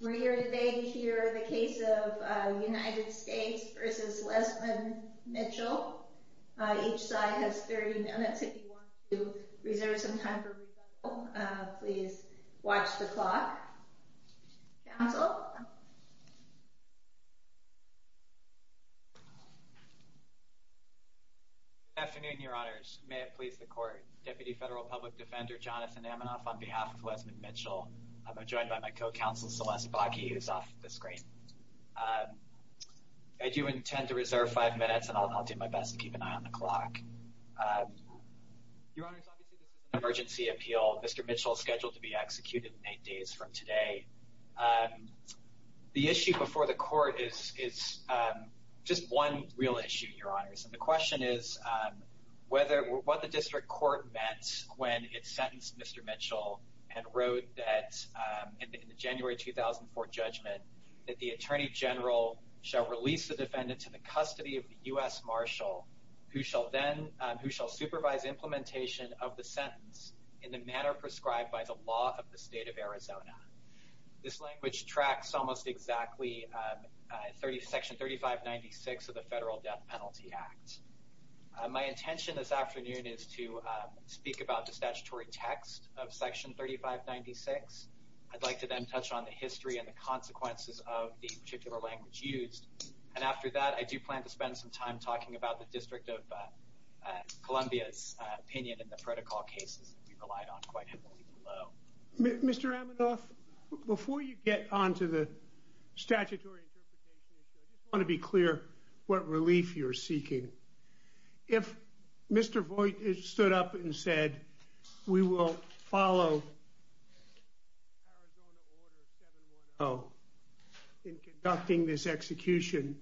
We're here today to hear the case of United States v. Lezmond Mitchell. Each side has 30 minutes. If you want to reserve some time for rebuttal, please watch the clock. Counsel? Good afternoon, Your Honors. May it please the Court. Deputy Federal Public Defender Jonathan Amanoff on behalf of Lezmond Mitchell. I'm joined by my co-counsel, Celeste Bakke, who's off the screen. I do intend to reserve five minutes, and I'll do my best to keep an eye on the clock. Your Honors, obviously this is an emergency appeal. Mr. Mitchell is scheduled to be executed eight days from today. The issue before the Court is just one real issue, Your Honors. And the question is what the District Court meant when it sentenced Mr. Mitchell and wrote in the January 2004 judgment that the Attorney General shall release the defendant to the custody of the U.S. Marshal, who shall supervise implementation of the sentence in the manner prescribed by the law of the State of Arizona. This language tracks almost exactly Section 3596 of the Federal Death Penalty Act. My intention this afternoon is to speak about the statutory text of Section 3596. I'd like to then touch on the history and the consequences of the particular language used. And after that, I do plan to spend some time talking about the District of Columbia's opinion in the protocol cases that we relied on quite heavily below. Mr. Amanoff, before you get onto the statutory interpretation issue, I just want to be clear what relief you're seeking. If Mr. Voigt stood up and said, we will follow Arizona Order 710 in conducting this execution,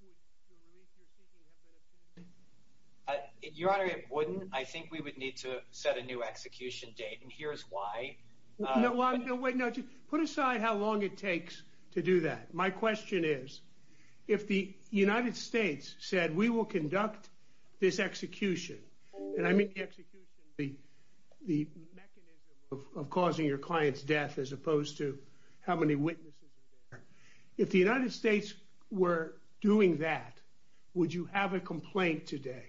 would the relief you're seeking have been obtained? Your Honor, it wouldn't. I think we would need to set a new execution date, and here's why. Put aside how long it takes to do that. My question is, if the United States said we will conduct this execution, and I mean the execution, the mechanism of causing your client's death as opposed to how many witnesses are there, if the United States were doing that, would you have a complaint today?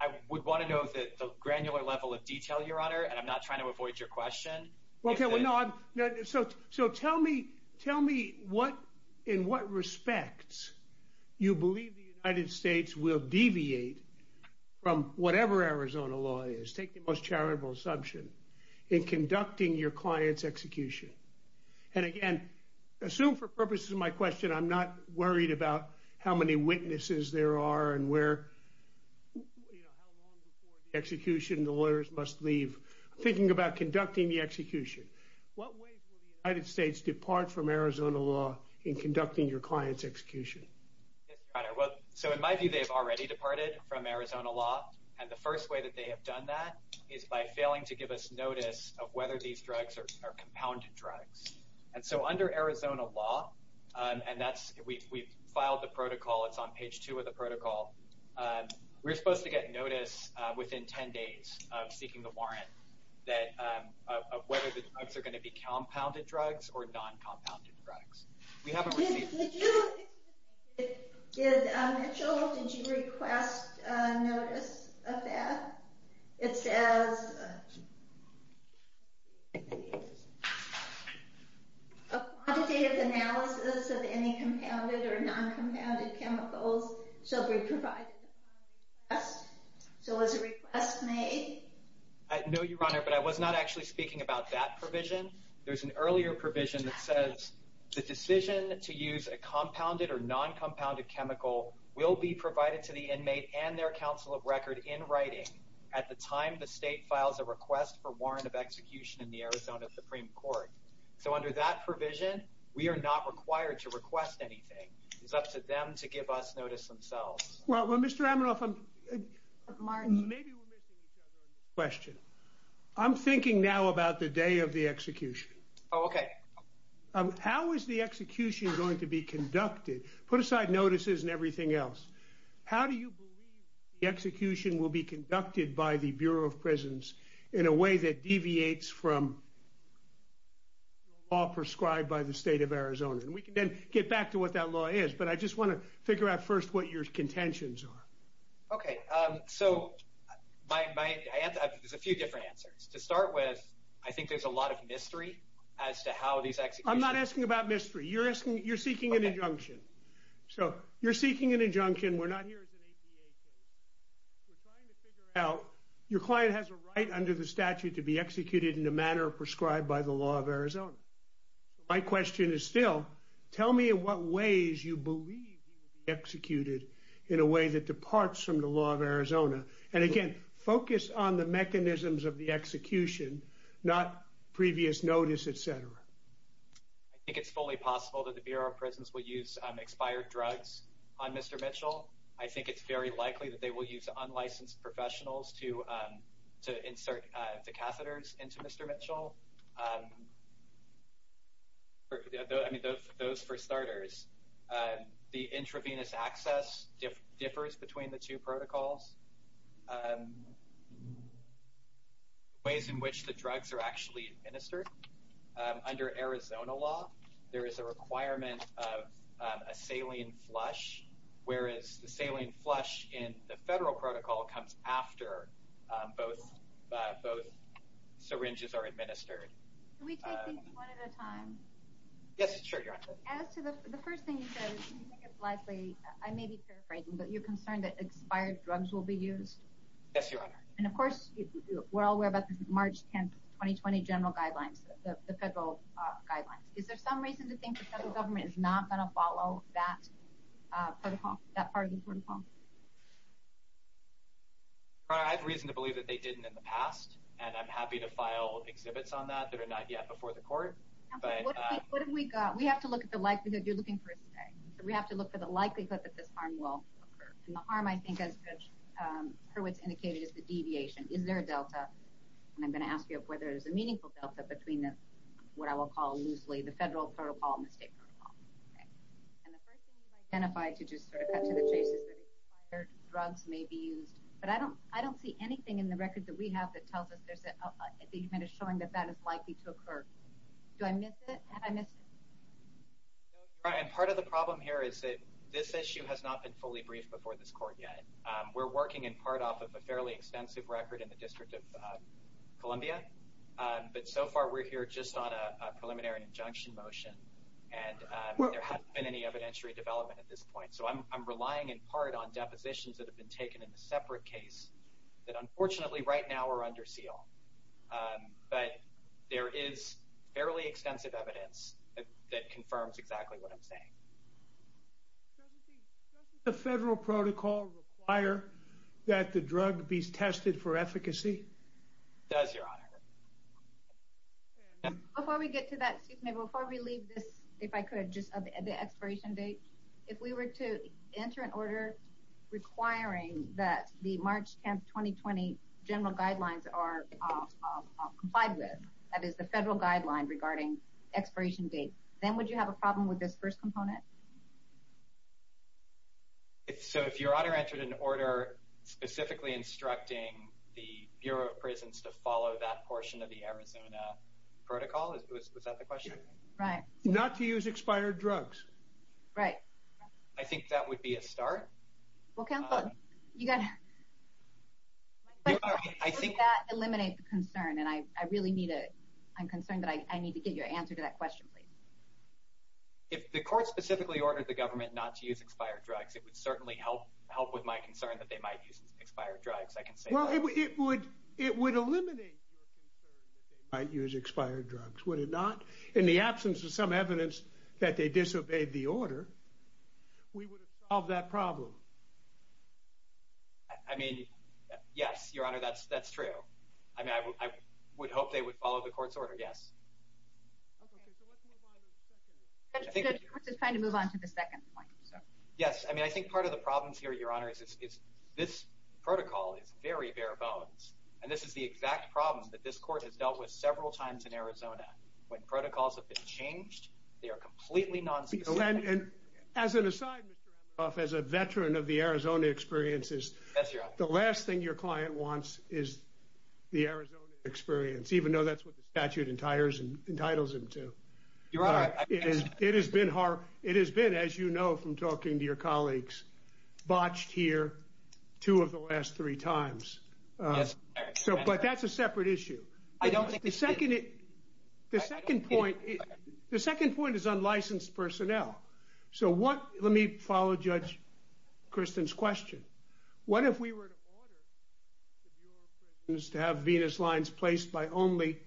I would want to know the granular level of detail, Your Honor, and I'm not trying to avoid your question. So tell me in what respects you believe the United States will deviate from whatever Arizona law is, take the most charitable assumption, in conducting your client's execution. And again, assume for purposes of my question, I'm not worried about how many witnesses there are and how long before the execution the lawyers must leave. Thinking about conducting the execution, what ways will the United States depart from Arizona law in conducting your client's execution? So in my view, they've already departed from Arizona law, and the first way that they have done that is by failing to give us notice of whether these drugs are compounded drugs. And so under Arizona law, and we've filed the protocol, it's on page 2 of the protocol, we're supposed to get notice within 10 days of seeking the warrant of whether the drugs are going to be compounded drugs or non-compounded drugs. Did you, Mitchell, did you request notice of that? It says, a quantitative analysis of any compounded or non-compounded chemicals shall be provided upon request. So was a request made? No, Your Honor, but I was not actually speaking about that provision. There's an earlier provision that says, the decision to use a compounded or non-compounded chemical will be provided to the inmate and their counsel of record in writing at the time the state files a request for warrant of execution in the Arizona Supreme Court. So under that provision, we are not required to request anything. It's up to them to give us notice themselves. Well, Mr. Amanoff, maybe we're missing each other on this question. I'm thinking now about the day of the execution. Oh, okay. How is the execution going to be conducted? Put aside notices and everything else. How do you believe the execution will be conducted by the Bureau of Prisons in a way that deviates from the law prescribed by the state of Arizona? And we can then get back to what that law is, but I just want to figure out first what your contentions are. Okay, so there's a few different answers. To start with, I think there's a lot of mystery as to how these executions... I'm not asking about mystery. You're seeking an injunction. So you're seeking an injunction. We're not here as an APA case. We're trying to figure out, your client has a right under the statute to be executed in the manner prescribed by the law of Arizona. My question is still, tell me in what ways you believe he will be executed in a way that departs from the law of Arizona. And again, focus on the mechanisms of the execution, not previous notice, et cetera. I think it's fully possible that the Bureau of Prisons will use expired drugs on Mr. Mitchell. I think it's very likely that they will use unlicensed professionals to insert the catheters into Mr. Mitchell. Those for starters. The intravenous access differs between the two protocols. Ways in which the drugs are actually administered. Under Arizona law, there is a requirement of a saline flush, whereas the saline flush in the federal protocol comes after both syringes are administered. Can we take things one at a time? Yes, sure, Your Honor. As to the first thing you said, you think it's likely... I may be paraphrasing, but you're concerned that expired drugs will be used? Yes, Your Honor. And of course, we're all aware about the March 10, 2020 general guidelines, the federal guidelines. Is there some reason to think the federal government is not going to follow that part of the protocol? Your Honor, I have reason to believe that they didn't in the past, and I'm happy to file exhibits on that that are not yet before the court. What have we got? We have to look at the likelihood. You're looking for a stay. We have to look for the likelihood that this harm will occur. And the harm, I think, as Hurwitz indicated, is the deviation. Is there a delta? And I'm going to ask you whether there's a meaningful delta between what I will call loosely the federal protocol and the state protocol. And the first thing you've identified, to just sort of cut to the chase, is that expired drugs may be used. But I don't see anything in the record that we have that tells us that the event is showing that that is likely to occur. Do I miss it? Have I missed it? And part of the problem here is that this issue has not been fully briefed before this court yet. We're working in part off of a fairly extensive record in the District of Columbia, but so far we're here just on a preliminary injunction motion, and there hasn't been any evidentiary development at this point. So I'm relying in part on depositions that have been taken in a separate case that, unfortunately, right now are under seal. But there is fairly extensive evidence that confirms exactly what I'm saying. Doesn't the federal protocol require that the drug be tested for efficacy? It does, Your Honor. Before we get to that, excuse me, before we leave this, if I could, just the expiration date, if we were to enter an order requiring that the March 10, 2020, general guidelines are complied with, that is the federal guideline regarding expiration date, then would you have a problem with this first component? So if Your Honor entered an order specifically instructing the Bureau of Prisons to follow that portion of the Arizona protocol, was that the question? Right. Not to use expired drugs. Right. I think that would be a start. Well, counsel, you got to... I think... Would that eliminate the concern? And I really need a... I'm concerned that I need to get your answer to that question, please. If the court specifically ordered the government not to use expired drugs, it would certainly help with my concern that they might use expired drugs. I can say that. Well, it would eliminate your concern that they might use expired drugs, would it not? In the absence of some evidence that they disobeyed the order, we would have solved that problem. I mean, yes, Your Honor, that's true. I mean, I would hope they would follow the court's order, yes. Okay, so let's move on to the second. The court is trying to move on to the second point. Yes, I mean, I think part of the problem here, Your Honor, is this protocol is very bare bones, and this is the exact problem that this court has dealt with several times in Arizona. When protocols have been changed, they are completely nonspecific. And as an aside, Mr. Emmerhoff, as a veteran of the Arizona experiences... Yes, Your Honor. The last thing your client wants is the Arizona experience, even though that's what the statute entitles him to. Your Honor, I... It has been, as you know from talking to your colleagues, botched here two of the last three times. Yes, Your Honor. But that's a separate issue. I don't think it is. The second point is unlicensed personnel. So let me follow Judge Christen's question. What if we were to order the Bureau of Prisons to have Venus Lines placed by only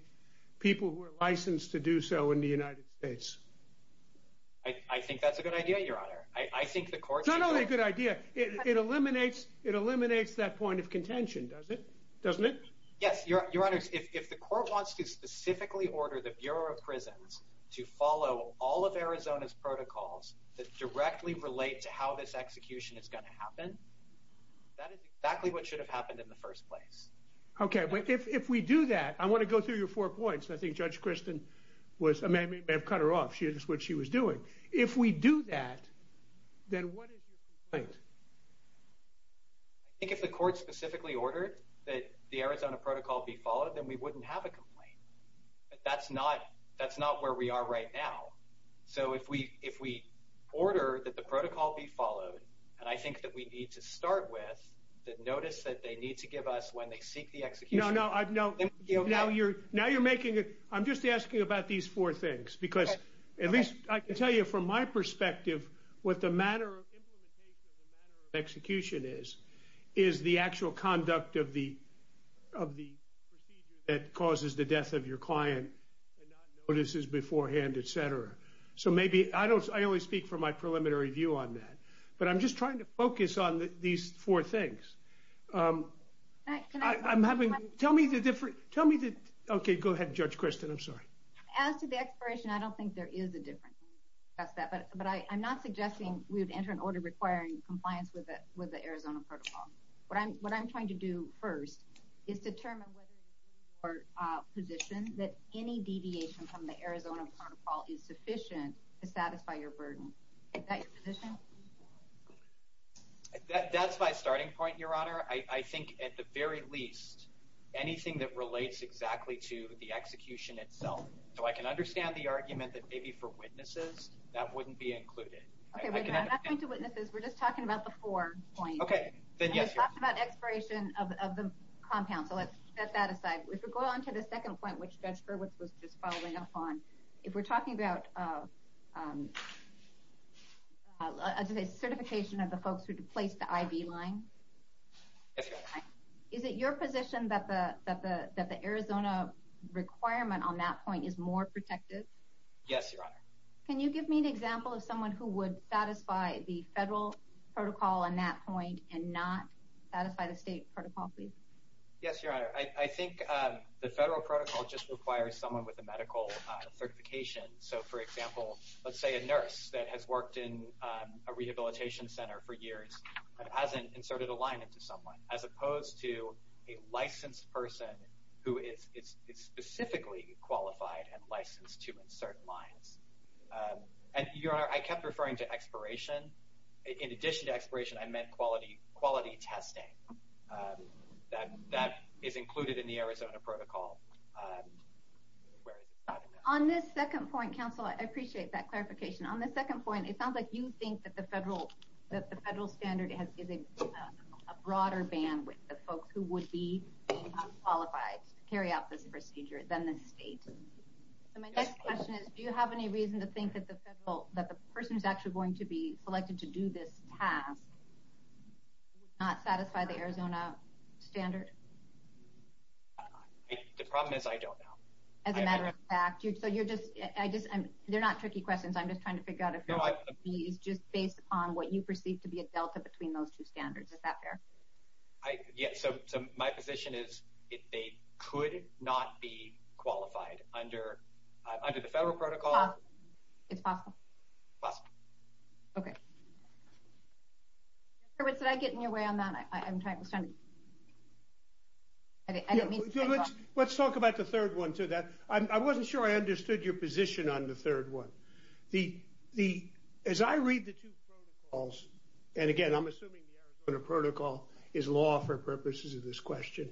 people who are licensed to do so in the United States? I think that's a good idea, Your Honor. I think the court... It's really a good idea. It eliminates that point of contention, doesn't it? Yes, Your Honor. If the court wants to specifically order the Bureau of Prisons to follow all of Arizona's protocols that directly relate to how this execution is going to happen, that is exactly what should have happened in the first place. Okay. If we do that, I want to go through your four points. I think Judge Christen may have cut her off. She did what she was doing. If we do that, then what is your complaint? I think if the court specifically ordered that the Arizona protocol be followed, then we wouldn't have a complaint. That's not where we are right now. So if we order that the protocol be followed, and I think that we need to start with the notice that they need to give us when they seek the execution... No, no. Now you're making it... I'm just asking about these four things because at least I can tell you from my perspective what the matter of implementation, the matter of execution is, is the actual conduct of the procedure that causes the death of your client and not notices beforehand, et cetera. So maybe... I only speak from my preliminary view on that, but I'm just trying to focus on these four things. I'm having... Tell me the difference... Tell me the... Okay, go ahead, Judge Christen. I'm sorry. As to the expiration, I don't think there is a difference. But I'm not suggesting we would enter an order requiring compliance with the Arizona protocol. What I'm trying to do first is determine whether your position that any deviation from the Arizona protocol is sufficient to satisfy your burden. Is that your position? That's my starting point, Your Honor. I think, at the very least, anything that relates exactly to the execution itself. So I can understand the argument that maybe for witnesses that wouldn't be included. Okay, wait a minute. I'm not going to witnesses. We're just talking about the four points. Okay, then yes, Your Honor. I was talking about expiration of the compound, so let's set that aside. If we go on to the second point, which Judge Hurwitz was just following up on, if we're talking about certification of the folks who placed the IV line, is it your position that the Arizona requirement on that point is more protective? Yes, Your Honor. Can you give me an example of someone who would satisfy the federal protocol on that point and not satisfy the state protocol, please? Yes, Your Honor. I think the federal protocol just requires someone with a medical certification. So, for example, let's say a nurse that has worked in a rehabilitation center for years and hasn't inserted a line into someone as opposed to a licensed person who is specifically qualified and licensed to insert lines. And, Your Honor, I kept referring to expiration. In addition to expiration, I meant quality testing. That is included in the Arizona protocol. On this second point, counsel, I appreciate that clarification. On the second point, it sounds like you think that the federal standard is a broader ban with the folks who would be unqualified to carry out this procedure than the state. So my next question is, do you have any reason to think that the person who is actually going to be selected to do this task would not satisfy the Arizona standard? The problem is I don't know. As a matter of fact, they're not tricky questions. I'm just trying to figure out if your answer is just based upon what you perceive to be a delta between those two standards. Is that fair? Yes. So my position is they could not be qualified under the federal protocol. It's possible. It's possible. Okay. Did I get in your way on that? Let's talk about the third one. I wasn't sure I understood your position on the third one. As I read the two protocols, and again, I'm assuming the Arizona protocol is law for purposes of this question,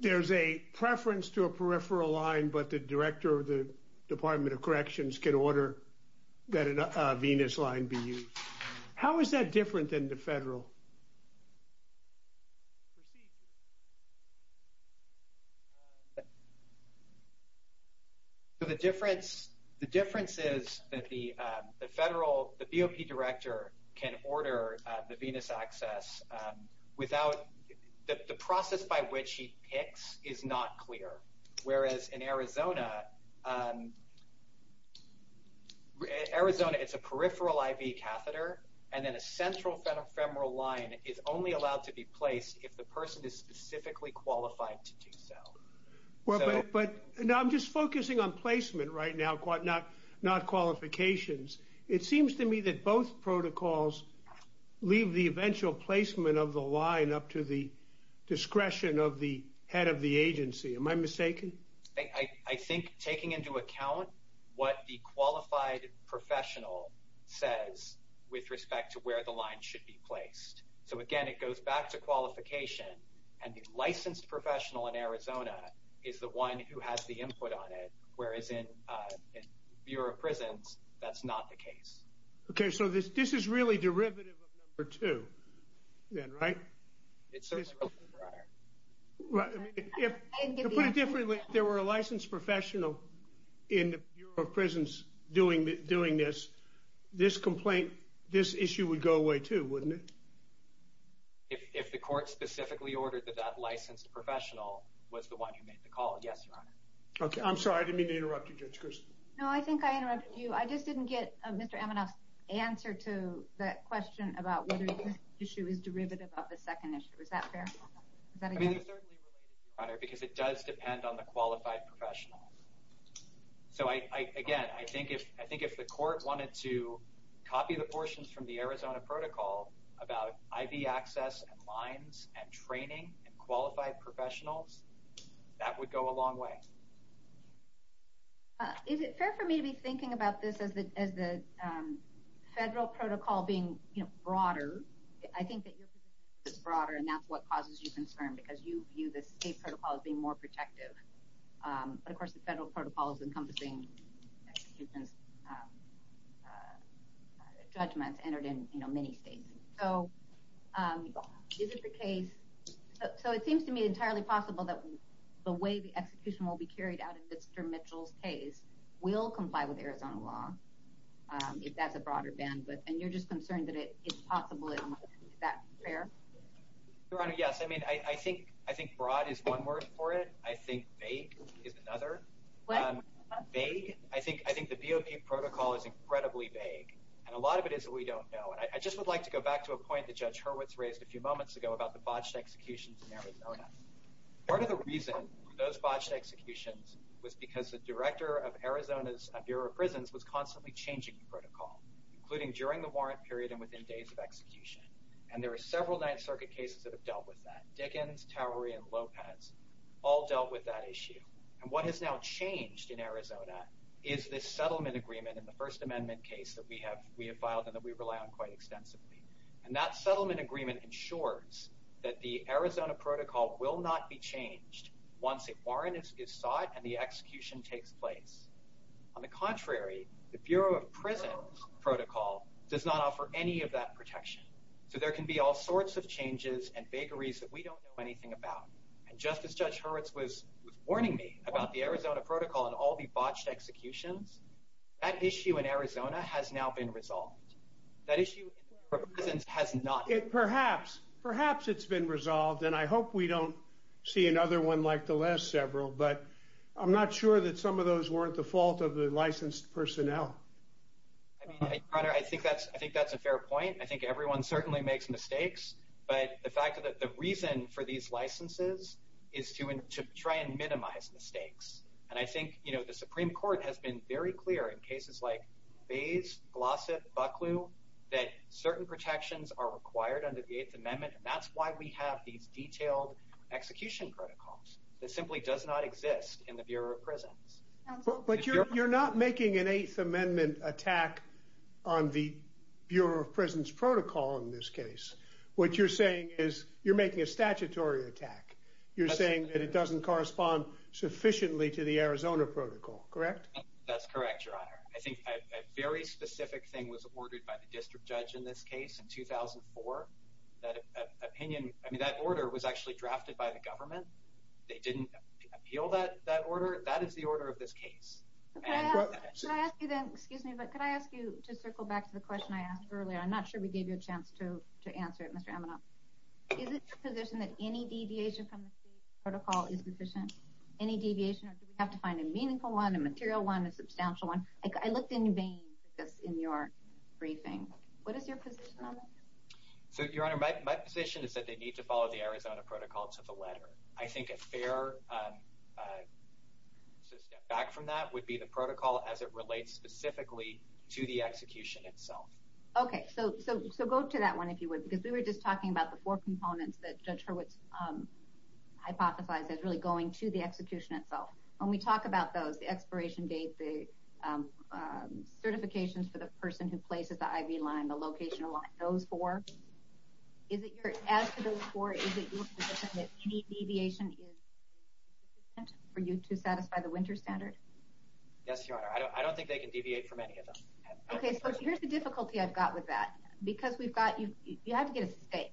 there's a preference to a peripheral line, but the director of the Department of Corrections can order that a Venus line be used. How is that different than the federal procedure? The difference is that the federal, the BOP director can order the Venus access without the process by which he picks is not clear. Whereas in Arizona, it's a peripheral IV catheter, and then a central femoral line is only allowed to be placed if the person is specifically qualified to do so. I'm just focusing on placement right now, not qualifications. It seems to me that both protocols leave the eventual placement of the line up to the discretion of the head of the agency. Am I mistaken? I think taking into account what the qualified professional says with respect to where the line should be placed. So again, it goes back to qualification, and the licensed professional in Arizona is the one who has the input on it, whereas in Bureau of Prisons, that's not the case. Okay, so this is really derivative of number two then, right? It certainly is, Your Honor. To put it differently, if there were a licensed professional in the Bureau of Prisons doing this, this issue would go away too, wouldn't it? If the court specifically ordered that that licensed professional was the one who made the call, yes, Your Honor. Okay, I'm sorry, I didn't mean to interrupt you, Judge Grisham. No, I think I interrupted you. I just didn't get Mr. Amanoff's answer to that question about whether this issue is derivative of the second issue. Is that fair? I mean, it certainly relates to you, Your Honor, because it does depend on the qualified professional. So again, I think if the court wanted to copy the portions from the Arizona protocol about IV access and lines and training and qualified professionals, that would go a long way. Is it fair for me to be thinking about this as the federal protocol being broader? I think that your position is broader, and that's what causes you concern, because you view the state protocol as being more protective. But, of course, the federal protocol is encompassing judgments entered in many states. So is it the case – so it seems to me entirely possible that the way the execution will be carried out in Mr. Mitchell's case will comply with Arizona law, if that's a broader ban. And you're just concerned that it's possible that that's fair? Your Honor, yes. I mean, I think broad is one word for it. I think vague is another. What? Vague. I think the BOP protocol is incredibly vague, and a lot of it is that we don't know. And I just would like to go back to a point that Judge Hurwitz raised a few moments ago about the botched executions in Arizona. Part of the reason for those botched executions was because the director of Arizona's Bureau of Prisons was constantly changing the protocol, including during the warrant period and within days of execution. And there are several Ninth Circuit cases that have dealt with that. Dickens, Towery, and Lopez all dealt with that issue. And what has now changed in Arizona is this settlement agreement in the First Amendment case that we have filed and that we rely on quite extensively. And that settlement agreement ensures that the Arizona protocol will not be changed once a warrant is sought and the execution takes place. On the contrary, the Bureau of Prisons protocol does not offer any of that protection. So there can be all sorts of changes and vagaries that we don't know anything about. And just as Judge Hurwitz was warning me about the Arizona protocol and all the botched executions, that issue in Arizona has now been resolved. That issue in the Bureau of Prisons has not been resolved. Perhaps. Perhaps it's been resolved, and I hope we don't see another one like the last several. But I'm not sure that some of those weren't the fault of the licensed personnel. Your Honor, I think that's a fair point. I think everyone certainly makes mistakes. But the reason for these licenses is to try and minimize mistakes. And I think the Supreme Court has been very clear in cases like Bays, Glossip, Bucklew that certain protections are required under the Eighth Amendment. And that's why we have these detailed execution protocols. It simply does not exist in the Bureau of Prisons. But you're not making an Eighth Amendment attack on the Bureau of Prisons protocol in this case. What you're saying is you're making a statutory attack. You're saying that it doesn't correspond sufficiently to the Arizona protocol, correct? That's correct, Your Honor. I think a very specific thing was ordered by the district judge in this case in 2004. That order was actually drafted by the government. They didn't appeal that order. That is the order of this case. Excuse me, but could I ask you to circle back to the question I asked earlier? I'm not sure we gave you a chance to answer it, Mr. Amanoff. Is it your position that any deviation from the state protocol is sufficient? Any deviation? Or do we have to find a meaningful one, a material one, a substantial one? I looked in vain for this in your briefing. What is your position on that? So, Your Honor, my position is that they need to follow the Arizona protocol to the letter. I think a fair step back from that would be the protocol as it relates specifically to the execution itself. Okay, so go to that one if you would, because we were just talking about the four components that Judge Hurwitz hypothesized as really going to the execution itself. When we talk about those, the expiration date, the certifications for the person who places the IV line, the location of those four, as to those four, is it your position that any deviation is sufficient for you to satisfy the winter standard? Yes, Your Honor. I don't think they can deviate from any of them. Okay, so here's the difficulty I've got with that. Because you have to get a state,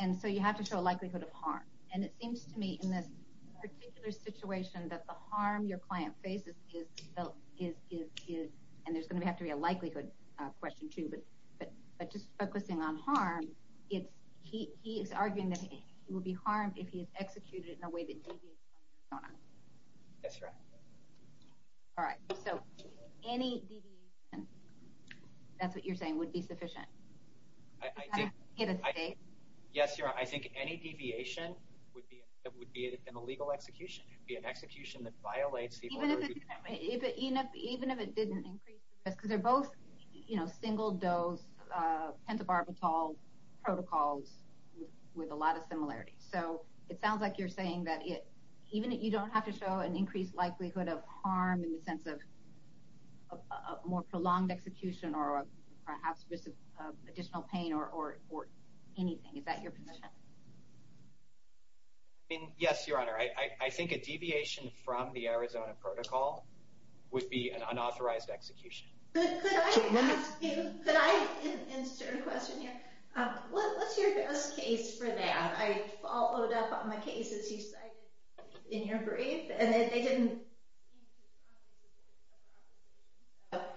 and so you have to show a likelihood of harm. And it seems to me in this particular situation that the harm your client faces is, and there's going to have to be a likelihood question too, but just focusing on harm, he is arguing that he will be harmed if he is executed in a way that deviates from what's going on. Yes, Your Honor. All right, so any deviation, that's what you're saying, would be sufficient? You've got to get a state. Yes, Your Honor. I think any deviation would be an illegal execution. It would be an execution that violates the order of the family. Even if it didn't increase the risk? Because they're both single-dose pentobarbital protocols with a lot of similarities. So it sounds like you're saying that even if you don't have to show an increased likelihood of harm in the sense of a more prolonged execution or perhaps additional pain or anything. Is that your position? Yes, Your Honor. I think a deviation from the Arizona protocol would be an unauthorized execution. Could I ask you, could I insert a question here? What's your best case for that? I followed up on the cases you cited in your brief. And they didn't seem to promise a more thorough execution.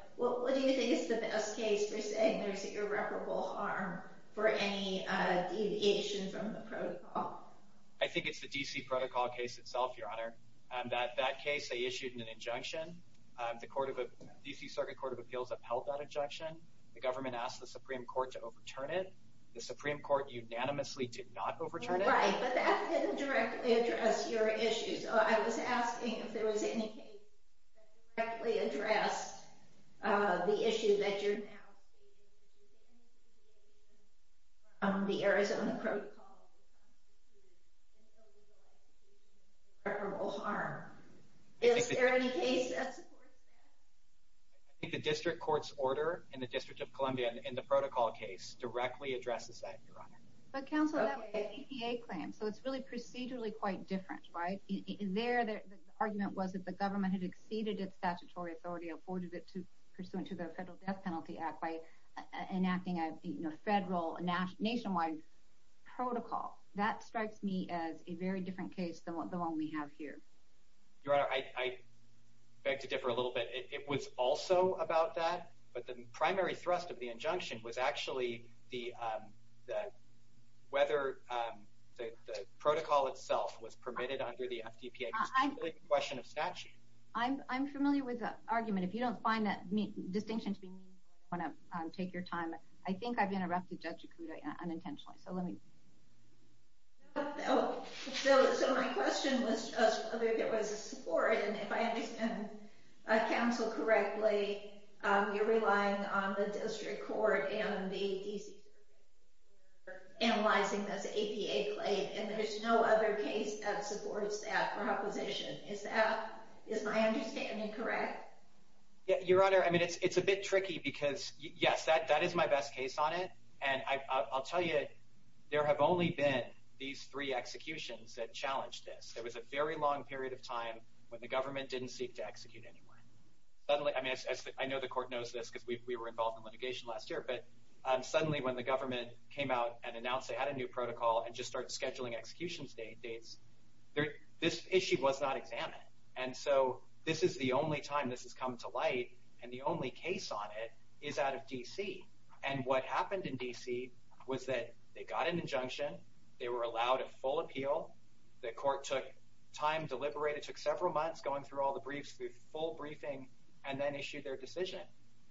What do you think is the best case for saying there's irreparable harm for any deviation from the protocol? I think it's the D.C. protocol case itself, Your Honor. That case they issued an injunction. The D.C. Circuit Court of Appeals upheld that injunction. The government asked the Supreme Court to overturn it. The Supreme Court unanimously did not overturn it. Right, but that didn't directly address your issues. I was asking if there was any case that directly addressed the issue that you're now stating, which is any deviation from the Arizona protocol would be unauthorized execution of irreparable harm. Is there any case that supports that? I think the district court's order in the District of Columbia in the protocol case directly addresses that, Your Honor. But, counsel, that was an EPA claim, so it's really procedurally quite different, right? There the argument was that the government had exceeded its statutory authority, afforded it pursuant to the Federal Death Penalty Act by enacting a federal nationwide protocol. That strikes me as a very different case than the one we have here. Your Honor, I beg to differ a little bit. It was also about that, but the primary thrust of the injunction was actually whether the protocol itself was permitted under the FDPA. It was really a question of statute. I'm familiar with that argument. If you don't find that distinction to be meaningful, I don't want to take your time. I think I've interrupted Judge Okuda unintentionally, so let me. No. So my question was just whether there was a support, and if I understand counsel correctly, you're relying on the district court and the DCC for analyzing this EPA claim, and there's no other case that supports that proposition. Is my understanding correct? Your Honor, I mean, it's a bit tricky because, yes, that is my best case on it. And I'll tell you, there have only been these three executions that challenged this. There was a very long period of time when the government didn't seek to execute anyone. I know the court knows this because we were involved in litigation last year, but suddenly when the government came out and announced they had a new protocol and just started scheduling execution dates, this issue was not examined. And so this is the only time this has come to light, and the only case on it is out of DC. And what happened in DC was that they got an injunction. They were allowed a full appeal. The court took time to liberate. It took several months going through all the briefs, the full briefing, and then issued their decision.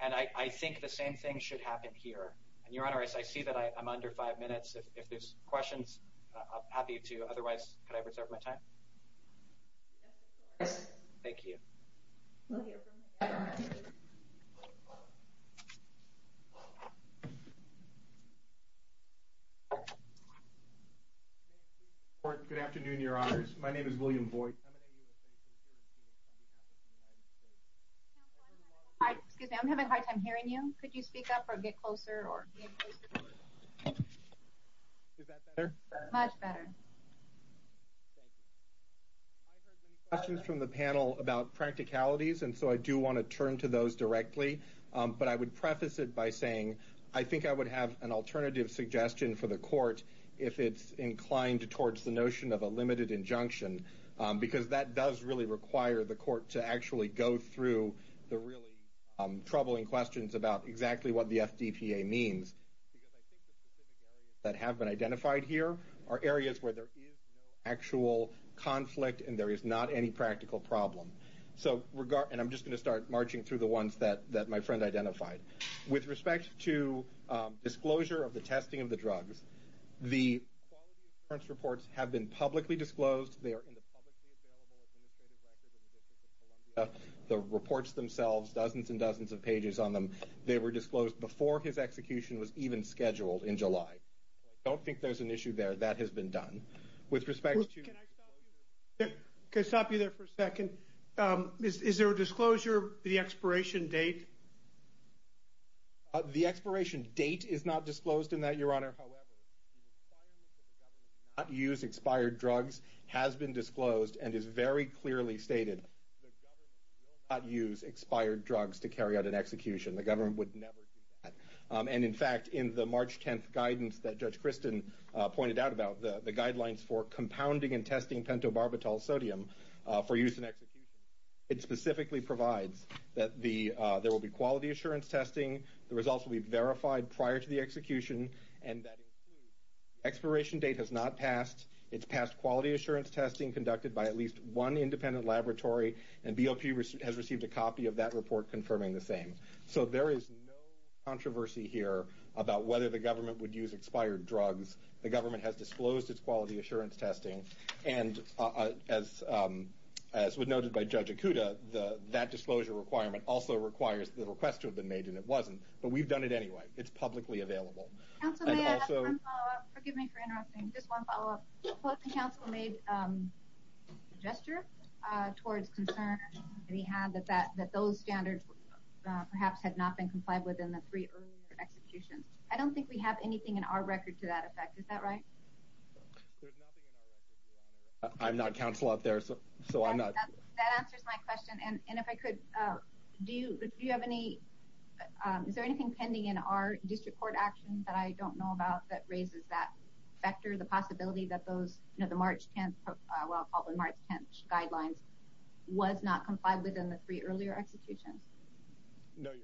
And I think the same thing should happen here. And, Your Honor, I see that I'm under five minutes. If there's questions, I'm happy to. Otherwise, could I reserve my time? Thank you. We'll hear from him. Good afternoon, Your Honors. My name is William Boyd. Excuse me, I'm having a hard time hearing you. Could you speak up or get closer? Much better. Thank you. I heard many questions from the panel about practicalities, and so I do want to turn to those directly. But I would preface it by saying I think I would have an alternative suggestion for the court if it's inclined towards the notion of a limited injunction, because that does really require the court to actually go through the really troubling questions about exactly what the FDPA means. Because I think the specific areas that have been identified here are areas where there is no actual conflict and there is not any practical problem. And I'm just going to start marching through the ones that my friend identified. With respect to disclosure of the testing of the drugs, the quality assurance reports have been publicly disclosed. They are in the publicly available administrative records in the District of Columbia, the reports themselves, dozens and dozens of pages on them. They were disclosed before his execution was even scheduled in July. So I don't think there's an issue there. That has been done. With respect to – Can I stop you there for a second? Is there a disclosure of the expiration date? The expiration date is not disclosed in that, Your Honor. However, the requirement that the government not use expired drugs has been disclosed and is very clearly stated. The government will not use expired drugs to carry out an execution. The government would never do that. And, in fact, in the March 10th guidance that Judge Kristen pointed out about, the guidelines for compounding and testing pentobarbital sodium for use in execution, it specifically provides that there will be quality assurance testing. The results will be verified prior to the execution, and that includes the expiration date has not passed. It's passed quality assurance testing conducted by at least one independent laboratory, and BOP has received a copy of that report confirming the same. So there is no controversy here about whether the government would use expired drugs. The government has disclosed its quality assurance testing, and as was noted by Judge Ikuda, that disclosure requirement also requires the request to have been made, and it wasn't. But we've done it anyway. It's publicly available. Counsel, may I have one follow-up? Forgive me for interrupting. Just one follow-up. The counsel made a gesture towards concern that he had that those standards perhaps had not been complied with in the three earlier executions. I don't think we have anything in our record to that effect. Is that right? There's nothing in our record. I'm not counsel out there, so I'm not. That answers my question. And if I could, is there anything pending in our district court action that I don't know about that raises that factor, the possibility that the March 10th guidelines was not complied with in the three earlier executions? No, Your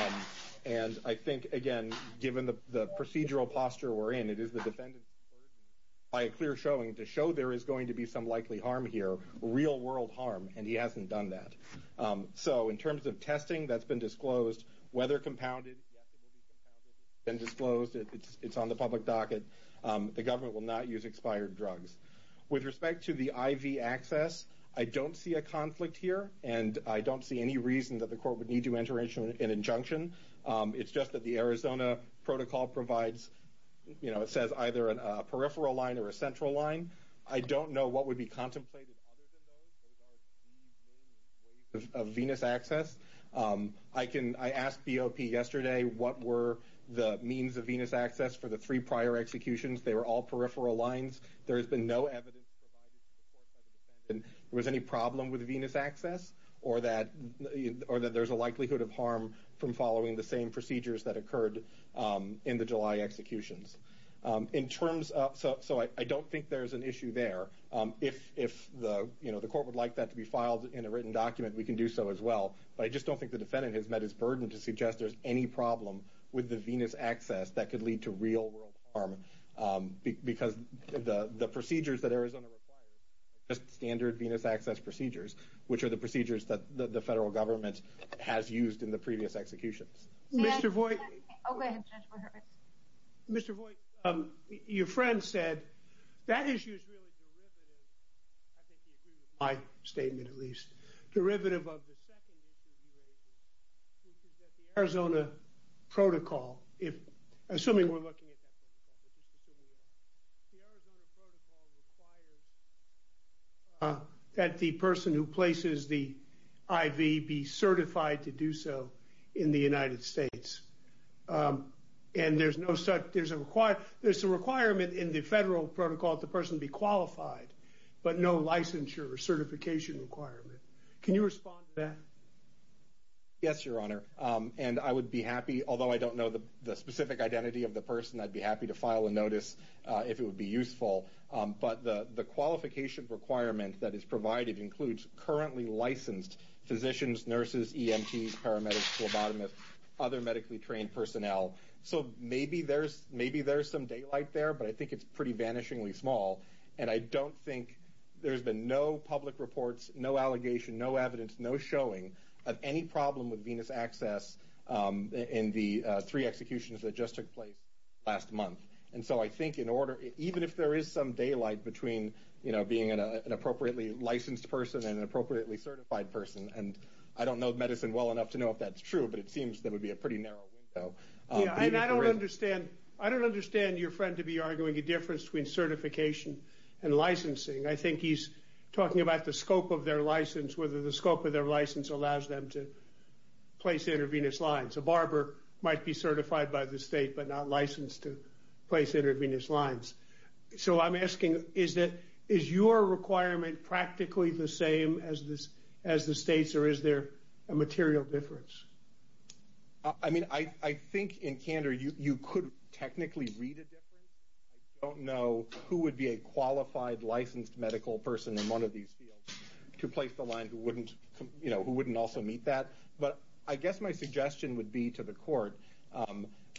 Honor. The only motions before the district court are the ones that were brought up last year. And I think, again, given the procedural posture we're in, it is the defendant's burden by a clear showing to show there is going to be some likely harm here, real-world harm, and he hasn't done that. So in terms of testing, that's been disclosed. Whether compounded, yes, it will be compounded. It's been disclosed. It's on the public docket. The government will not use expired drugs. With respect to the IV access, I don't see a conflict here, and I don't see any reason that the court would need to enter into an injunction. It's just that the Arizona protocol provides, you know, it says either a peripheral line or a central line. I don't know what would be contemplated other than those. Those are the main ways of venous access. I asked BOP yesterday what were the means of venous access for the three prior executions. They were all peripheral lines. There has been no evidence provided to the court by the defendant that there was any problem with venous access or that there's a likelihood of harm from following the same procedures that occurred in the July executions. So I don't think there's an issue there. If the court would like that to be filed in a written document, we can do so as well, but I just don't think the defendant has met his burden to suggest there's any problem with the venous access that could lead to real-world harm because the procedures that Arizona requires are just standard venous access procedures, which are the procedures that the federal government has used in the previous executions. Mr. Voigt, your friend said that issue is really derivative, I think he agreed with my statement at least, derivative of the second issue he raised, which is that the Arizona protocol, assuming we're looking at that protocol, the Arizona protocol requires that the person who places the IV be certified to do so in the United States, and there's a requirement in the federal protocol that the person be qualified, but no licensure or certification requirement. Can you respond to that? Yes, Your Honor, and I would be happy, although I don't know the specific identity of the person, I'd be happy to file a notice if it would be useful, but the qualification requirement that is provided includes currently licensed physicians, nurses, EMTs, paramedics, phlebotomists, other medically trained personnel, so maybe there's some daylight there, but I think it's pretty vanishingly small, and I don't think there's been no public reports, no allegation, no evidence, no showing of any problem with venous access in the three executions that just took place last month, and so I think in order, even if there is some daylight between being an appropriately licensed person and an appropriately certified person, and I don't know medicine well enough to know if that's true, but it seems there would be a pretty narrow window. I don't understand your friend to be arguing a difference between certification and licensing. I think he's talking about the scope of their license, whether the scope of their license allows them to place intravenous lines. A barber might be certified by the state, but not licensed to place intravenous lines. So I'm asking, is your requirement practically the same as the state's, or is there a material difference? I mean, I think in candor you could technically read a difference. I don't know who would be a qualified, licensed medical person in one of these fields to place the line who wouldn't also meet that, but I guess my suggestion would be to the court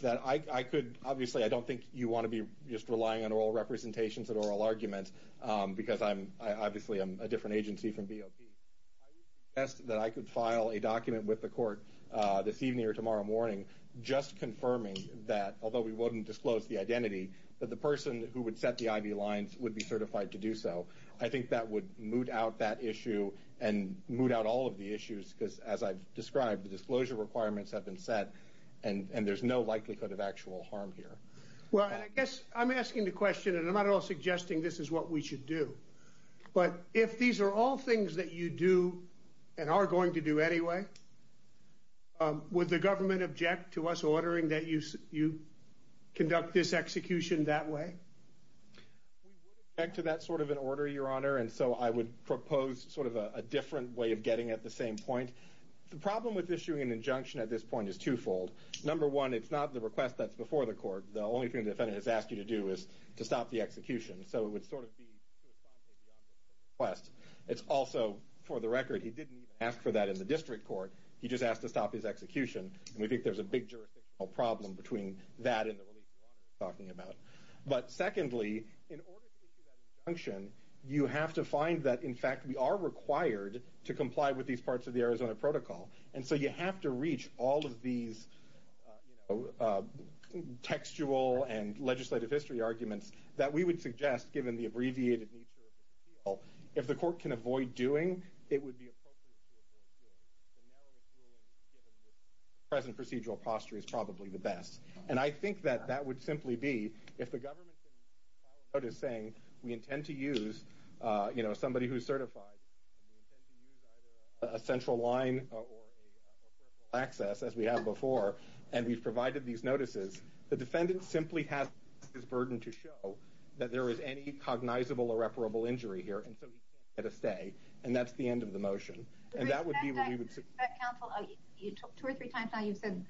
that I could, obviously I don't think you want to be just relying on oral representations and oral arguments, because obviously I'm a different agency from BOP. I would suggest that I could file a document with the court this evening or tomorrow morning just confirming that, although we wouldn't disclose the identity, that the person who would set the IV lines would be certified to do so. I think that would moot out that issue and moot out all of the issues, because as I've described, the disclosure requirements have been set, and there's no likelihood of actual harm here. Well, I guess I'm asking the question, and I'm not at all suggesting this is what we should do, but if these are all things that you do and are going to do anyway, would the government object to us ordering that you conduct this execution that way? We would object to that sort of an order, Your Honor, and so I would propose sort of a different way of getting at the same point. The problem with issuing an injunction at this point is twofold. Number one, it's not the request that's before the court. The only thing the defendant has asked you to do is to stop the execution, so it would sort of be to respond to the object of the request. It's also, for the record, he didn't even ask for that in the district court. He just asked to stop his execution, and we think there's a big jurisdictional problem between that and the relief you're talking about. But secondly, in order to issue that injunction, you have to find that, in fact, we are required to comply with these parts of the Arizona Protocol, and so you have to reach all of these textual and legislative history arguments that we would suggest, given the abbreviated nature of the appeal, if the court can avoid doing, it would be appropriate to avoid doing. The narrowest ruling given the present procedural posture is probably the best, and I think that that would simply be, if the government can file a notice saying, we intend to use somebody who's certified, and we intend to use either a central line or a peripheral access, as we have before, and we've provided these notices, the defendant simply has this burden to show that there is any cognizable irreparable injury here, and so he can't get a stay, and that's the end of the motion. And that would be what we would suggest. Counsel, two or three times now you've said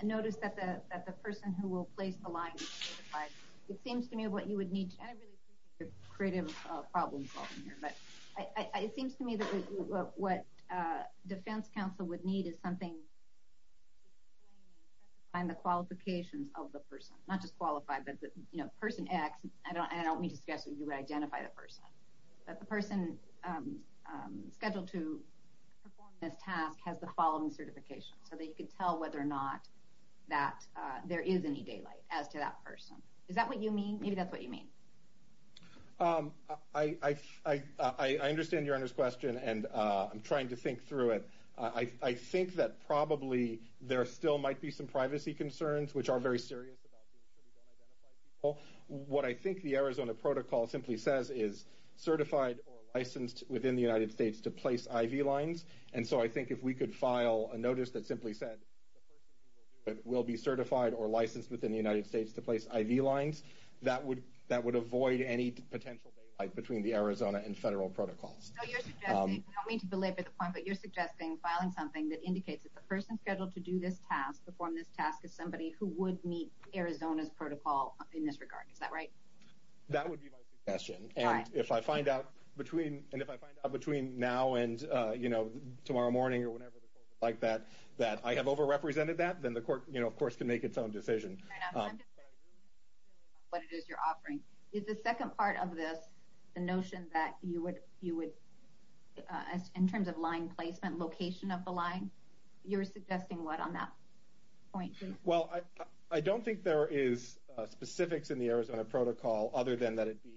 a notice that the person who will place the line is certified. It seems to me what you would need, and I really appreciate your creative problem-solving here, but it seems to me that what defense counsel would need is something to define the qualifications of the person, not just qualify, but person X, and I don't mean to suggest that you would identify the person, but the person scheduled to perform this task has the following certification, so that you can tell whether or not there is any daylight as to that person. Is that what you mean? Maybe that's what you mean. I understand your Honor's question, and I'm trying to think through it. I think that probably there still might be some privacy concerns, which are very serious about being sure we don't identify people. What I think the Arizona Protocol simply says is certified or licensed within the United States to place IV lines, and so I think if we could file a notice that simply said the person who will do it will be certified or licensed within the United States to place IV lines, that would avoid any potential daylight between the Arizona and federal protocols. I don't mean to belabor the point, but you're suggesting filing something that indicates that the person scheduled to do this task, perform this task, is somebody who would meet Arizona's protocol in this regard. Is that right? That would be my suggestion, and if I find out between now and tomorrow morning or whenever the court would like that, I have over-represented that, then the court, of course, can make its own decision. I'm just curious about what it is you're offering. Is the second part of this the notion that you would, in terms of line placement, location of the line? You're suggesting what on that point? Well, I don't think there is specifics in the Arizona Protocol other than that it be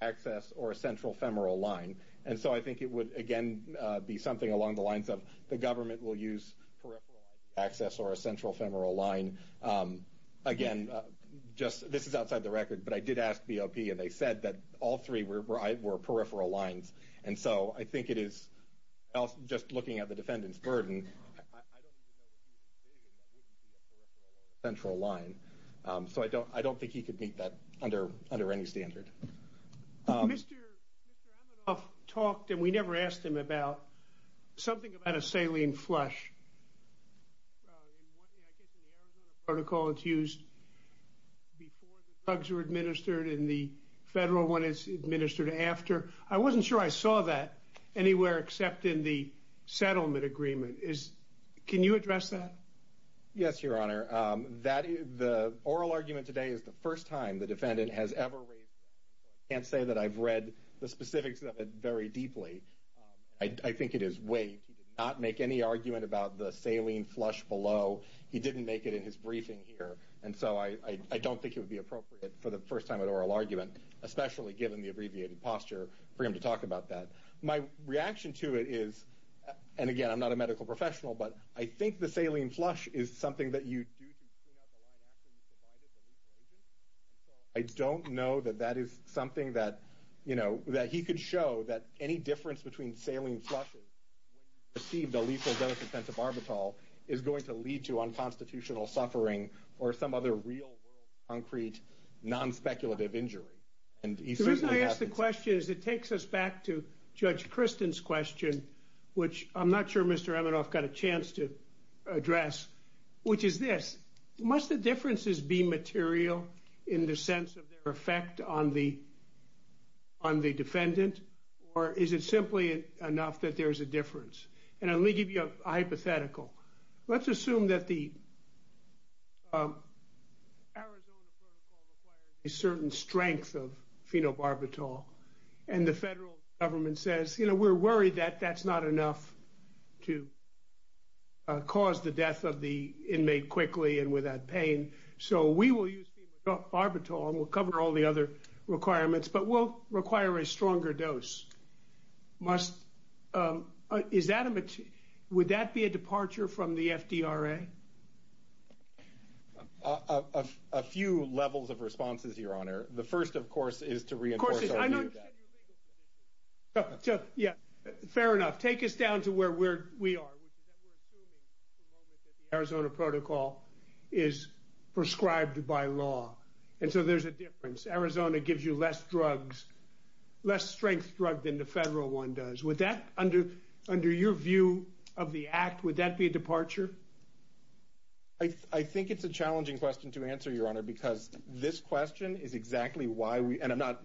peripheral access or a central femoral line, and so I think it would, again, be something along the lines of the government will use peripheral access or a central femoral line. Again, this is outside the record, but I did ask BOP, and they said that all three were peripheral lines, and so I think it is just looking at the defendant's burden, I don't even know what he was saying, and that wouldn't be a peripheral or central line, so I don't think he could meet that under any standard. Mr. Amadoff talked, and we never asked him about, something about a saline flush. I guess in the Arizona Protocol it's used before the drugs are administered and the federal one is administered after. I wasn't sure I saw that anywhere except in the settlement agreement. Can you address that? Yes, Your Honor. The oral argument today is the first time the defendant has ever raised that, so I can't say that I've read the specifics of it very deeply. I think it is weight. He did not make any argument about the saline flush below. He didn't make it in his briefing here, and so I don't think it would be appropriate for the first time at oral argument, especially given the abbreviated posture, for him to talk about that. My reaction to it is, and again, I'm not a medical professional, but I think the saline flush is something that you do to clean out the line after you've provided the lethal agent, and so I don't know that that is something that he could show, that any difference between saline flushes when you receive the lethal dose of pentobarbital is going to lead to unconstitutional suffering or some other real world concrete non-speculative injury. The reason I ask the question is it takes us back to Judge Kristen's question, which I'm not sure Mr. Eminoff got a chance to address, which is this. Must the differences be material in the sense of their effect on the defendant, or is it simply enough that there is a difference? And let me give you a hypothetical. Let's assume that the Arizona protocol requires a certain strength of phenobarbital, and the federal government says, you know, we're worried that that's not enough to cause the death of the inmate quickly and without pain, so we will use phenobarbital and we'll cover all the other requirements, but we'll require a stronger dose. Would that be a departure from the FDRA? A few levels of responses, Your Honor. The first, of course, is to reinforce our view that... Of course, I understand your legal position. Fair enough. Take us down to where we are, which is that we're assuming at the moment that the Arizona protocol is prescribed by law, and so there's a difference. Arizona gives you less drugs, less strength drug than the federal one does. Would that, under your view of the act, would that be a departure? I think it's a challenging question to answer, Your Honor, because this question is exactly why we... And I'm not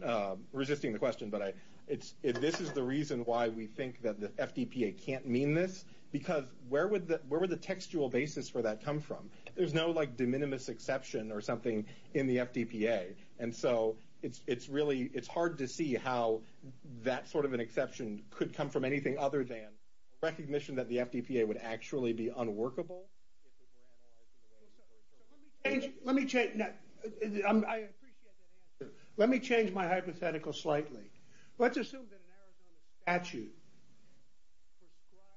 resisting the question, but this is the reason why we think that the FDPA can't mean this, because where would the textual basis for that come from? There's no, like, de minimis exception or something in the FDPA, and so it's really hard to see how that sort of an exception could come from anything other than recognition that the FDPA would actually be unworkable if it were analyzed in a way that... Let me change... I appreciate that answer. Let me change my hypothetical slightly. Let's assume that an Arizona statute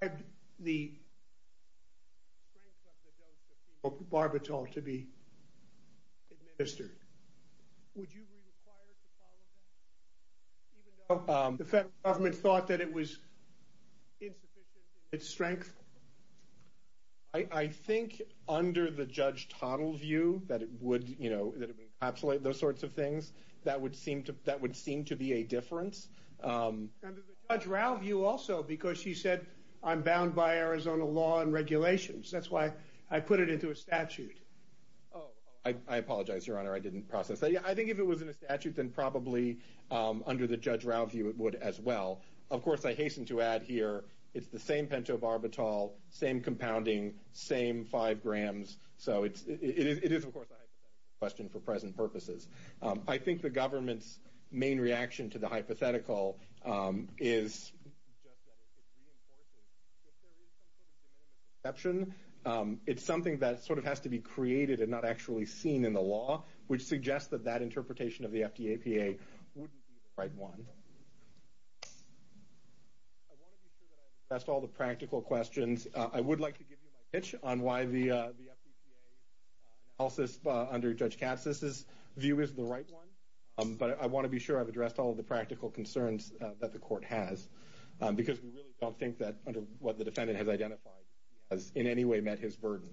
prescribed the strength of the dose of female Barbital to be administered. Would you be required to follow that? Even though the federal government thought that it was insufficient in its strength? I think under the Judge Toddle view that it would, you know, that it would encapsulate those sorts of things, that would seem to be a difference. Under the Judge Rau view also, because she said, I'm bound by Arizona law and regulations. That's why I put it into a statute. Oh, I apologize, Your Honor, I didn't process that. Yeah, I think if it was in a statute, then probably under the Judge Rau view it would as well. Of course, I hasten to add here it's the same pentobarbital, same compounding, same 5 grams. So it is, of course, a hypothetical question for present purposes. I think the government's main reaction to the hypothetical is just that it reinforces, if there is some sort of de minimis exception, it's something that sort of has to be created and not actually seen in the law, which suggests that that interpretation of the FDAPA wouldn't be the right one. I want to be sure that I addressed all the practical questions. I would like to give you my pitch on why the FDAPA analysis under Judge Katz's view is the right one, but I want to be sure I've addressed all of the practical concerns that the Court has, because we really don't think that under what the defendant has identified he has in any way met his burden.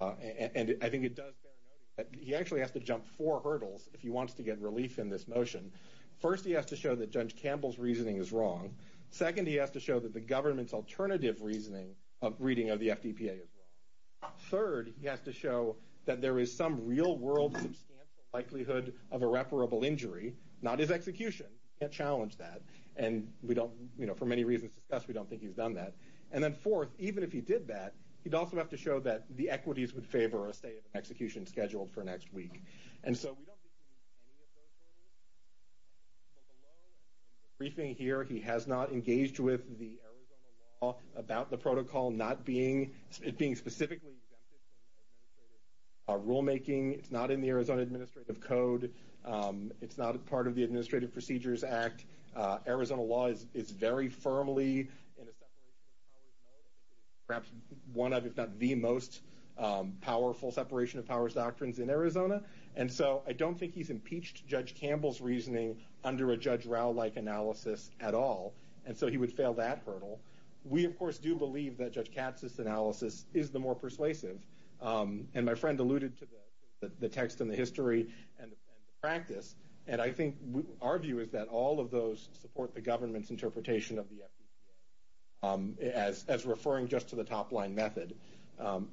I think it does bear noting that he actually has to jump four hurdles if he wants to get relief in this motion. First, he has to show that Judge Campbell's reasoning is wrong. Second, he has to show that the government's alternative reasoning of reading of the FDAPA is wrong. Third, he has to show that there is some real-world substantial likelihood of irreparable injury, not his execution. He can't challenge that, and we don't, for many reasons discussed, we don't think he's done that. And then fourth, even if he did that, he'd also have to show that the equities would favor a state of execution scheduled for next week. And so we don't think he meets any of those hurdles. Well, below in the briefing here, he has not engaged with the Arizona law about the protocol not being, it being specifically exempted from administrative rulemaking. It's not in the Arizona Administrative Code. It's not a part of the Administrative Procedures Act. Arizona law is very firmly in a separation of powers mode. I think it is perhaps one of, if not the most powerful separation of powers doctrines in Arizona. And so I don't think he's impeached Judge Campbell's reasoning under a Judge Rao-like analysis at all. And so he would fail that hurdle. We, of course, do believe that Judge Katz's analysis is the more persuasive. And my friend alluded to the text and the history and the practice. And I think our view is that all of those support the government's interpretation of the FDAPA as referring just to the top-line method.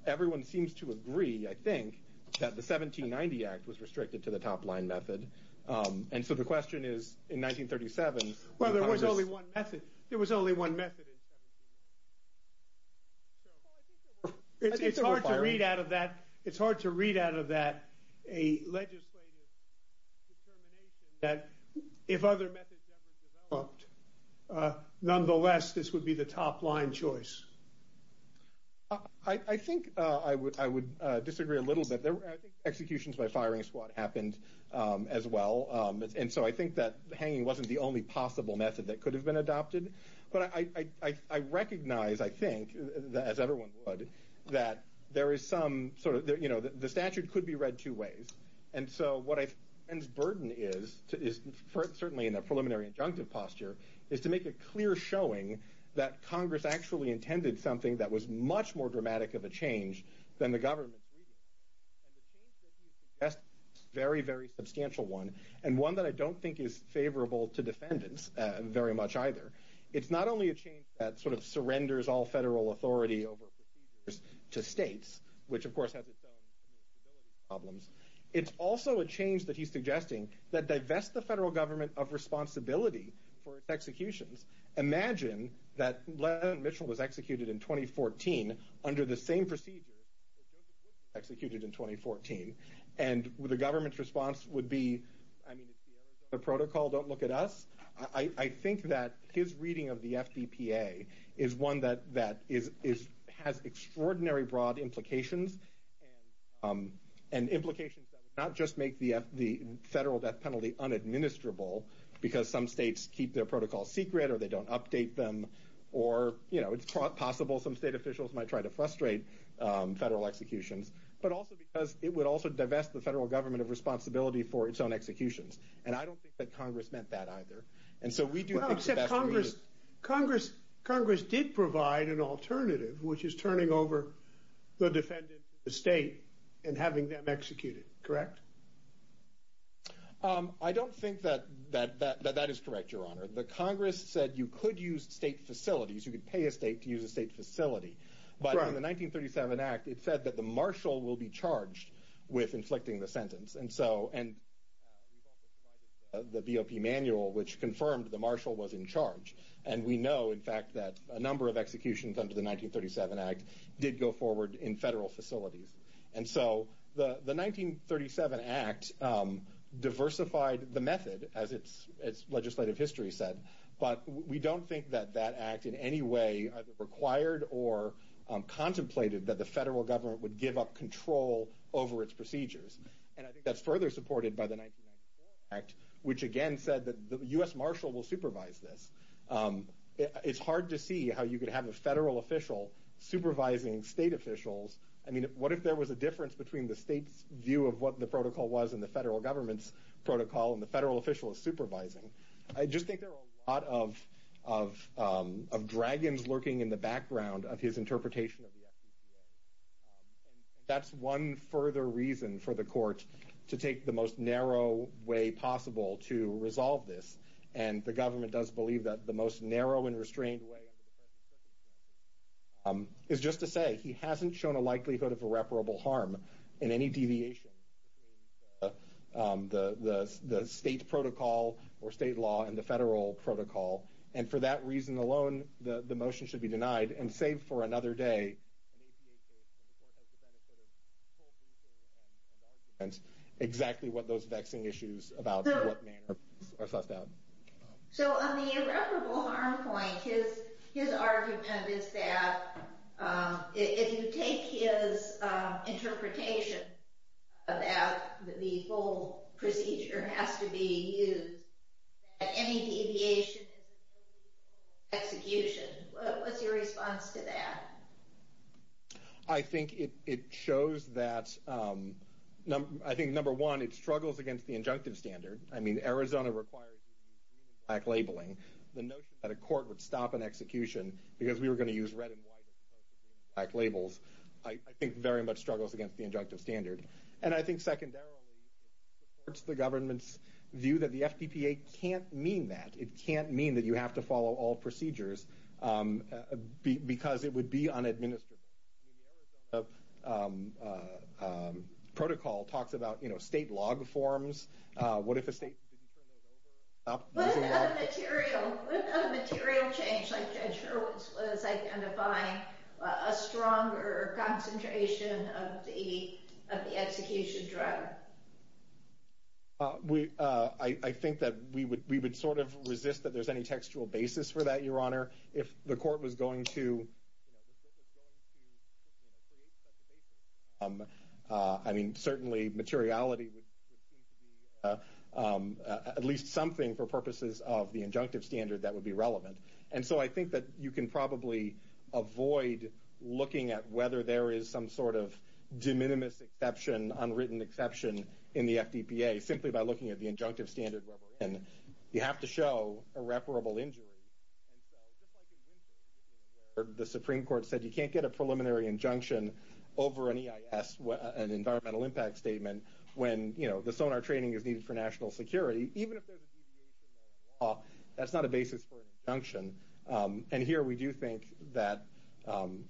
Everyone seems to agree, I think, that the 1790 Act was restricted to the top-line method. And so the question is, in 1937, how does this? Well, there was only one method. There was only one method in 1790. Well, I think there were fires. It's hard to read out of that a legislative determination that if other methods ever developed, nonetheless, this would be the top-line choice. I think I would disagree a little bit. I think executions by firing squad happened as well. And so I think that hanging wasn't the only possible method that could have been adopted. But I recognize, I think, as everyone would, that the statute could be read two ways. And so what I think the burden is, certainly in a preliminary injunctive posture, is to make a clear showing that Congress actually intended something that was much more dramatic of a change than the government's reading. And the change that he's suggesting is a very, very substantial one, and one that I don't think is favorable to defendants very much either. It's not only a change that sort of surrenders all federal authority over procedures to states, which, of course, has its own administrative problems. It's also a change that he's suggesting that divests the federal government of responsibility for its executions. Imagine that Leonard Mitchell was executed in 2014 under the same procedure that Joseph Woodward was executed in 2014. And the government's response would be, I mean, it's the Arizona Protocol, don't look at us. I think that his reading of the FDPA is one that has extraordinary broad implications, and implications that would not just make the federal death penalty unadministrable because some states keep their protocols secret or they don't update them, or it's possible some state officials might try to frustrate federal executions, but also because it would also divest the federal government of responsibility for its own executions. And I don't think that Congress meant that either. Well, except Congress did provide an alternative, which is turning over the defendant to the state and having them executed. Correct? I don't think that that is correct, Your Honor. The Congress said you could use state facilities, you could pay a state to use a state facility. But under the 1937 Act, it said that the marshal will be charged with inflicting the sentence. And we've also provided the BOP manual, which confirmed the marshal was in charge. And we know, in fact, that a number of executions under the 1937 Act did go forward in federal facilities. And so the 1937 Act diversified the method, as legislative history said, but we don't think that that Act in any way either required or contemplated that the federal government would give up control over its procedures. And I think that's further supported by the 1994 Act, which again said that the U.S. marshal will supervise this. It's hard to see how you could have a federal official supervising state officials. I mean, what if there was a difference between the state's view of what the protocol was and the federal government's protocol, and the federal official is supervising? I just think there are a lot of dragons lurking in the background of his interpretation of the SECA. That's one further reason for the court to take the most narrow way possible to resolve this. And the government does believe that the most narrow and restrained way under the present circumstances is just to say he hasn't shown a likelihood of irreparable harm in any deviation between the state protocol or state law and the federal protocol. And for that reason alone, the motion should be denied. And save for another day, an APA case when the court has the benefit of full briefing and arguments exactly what those vexing issues about what manner are sussed out. So on the irreparable harm point, his argument is that if you take his interpretation about the full procedure has to be used, that any deviation is an irreparable execution. What's your response to that? I think it shows that, I think number one, it struggles against the injunctive standard. I mean, Arizona requires you to use green and black labeling. The notion that a court would stop an execution because we were going to use red and white labels, I think very much struggles against the injunctive standard. And I think secondarily, it supports the government's view that the FDPA can't mean that. It can't mean that you have to follow all procedures because it would be unadministerable. I mean, the Arizona protocol talks about state log forms. What if a state didn't turn those over? What about a material change like Judge Hurwitz was identifying a stronger concentration of the execution drug? I think that we would sort of resist that there's any textual basis for that, Your Honor. If the court was going to create such a basis, I mean, certainly materiality would seem to be at least something for purposes of the injunctive standard that would be relevant. And so I think that you can probably avoid looking at whether there is some sort of de minimis exception, unwritten exception in the FDPA simply by looking at the injunctive standard where we're in. You have to show irreparable injury. And so just like in Winsor, this is where the Supreme Court said you can't get a preliminary injunction over an EIS, an environmental impact statement, when the sonar training is needed for national security. Even if there's a deviation in the law, that's not a basis for an injunction. And here we do think that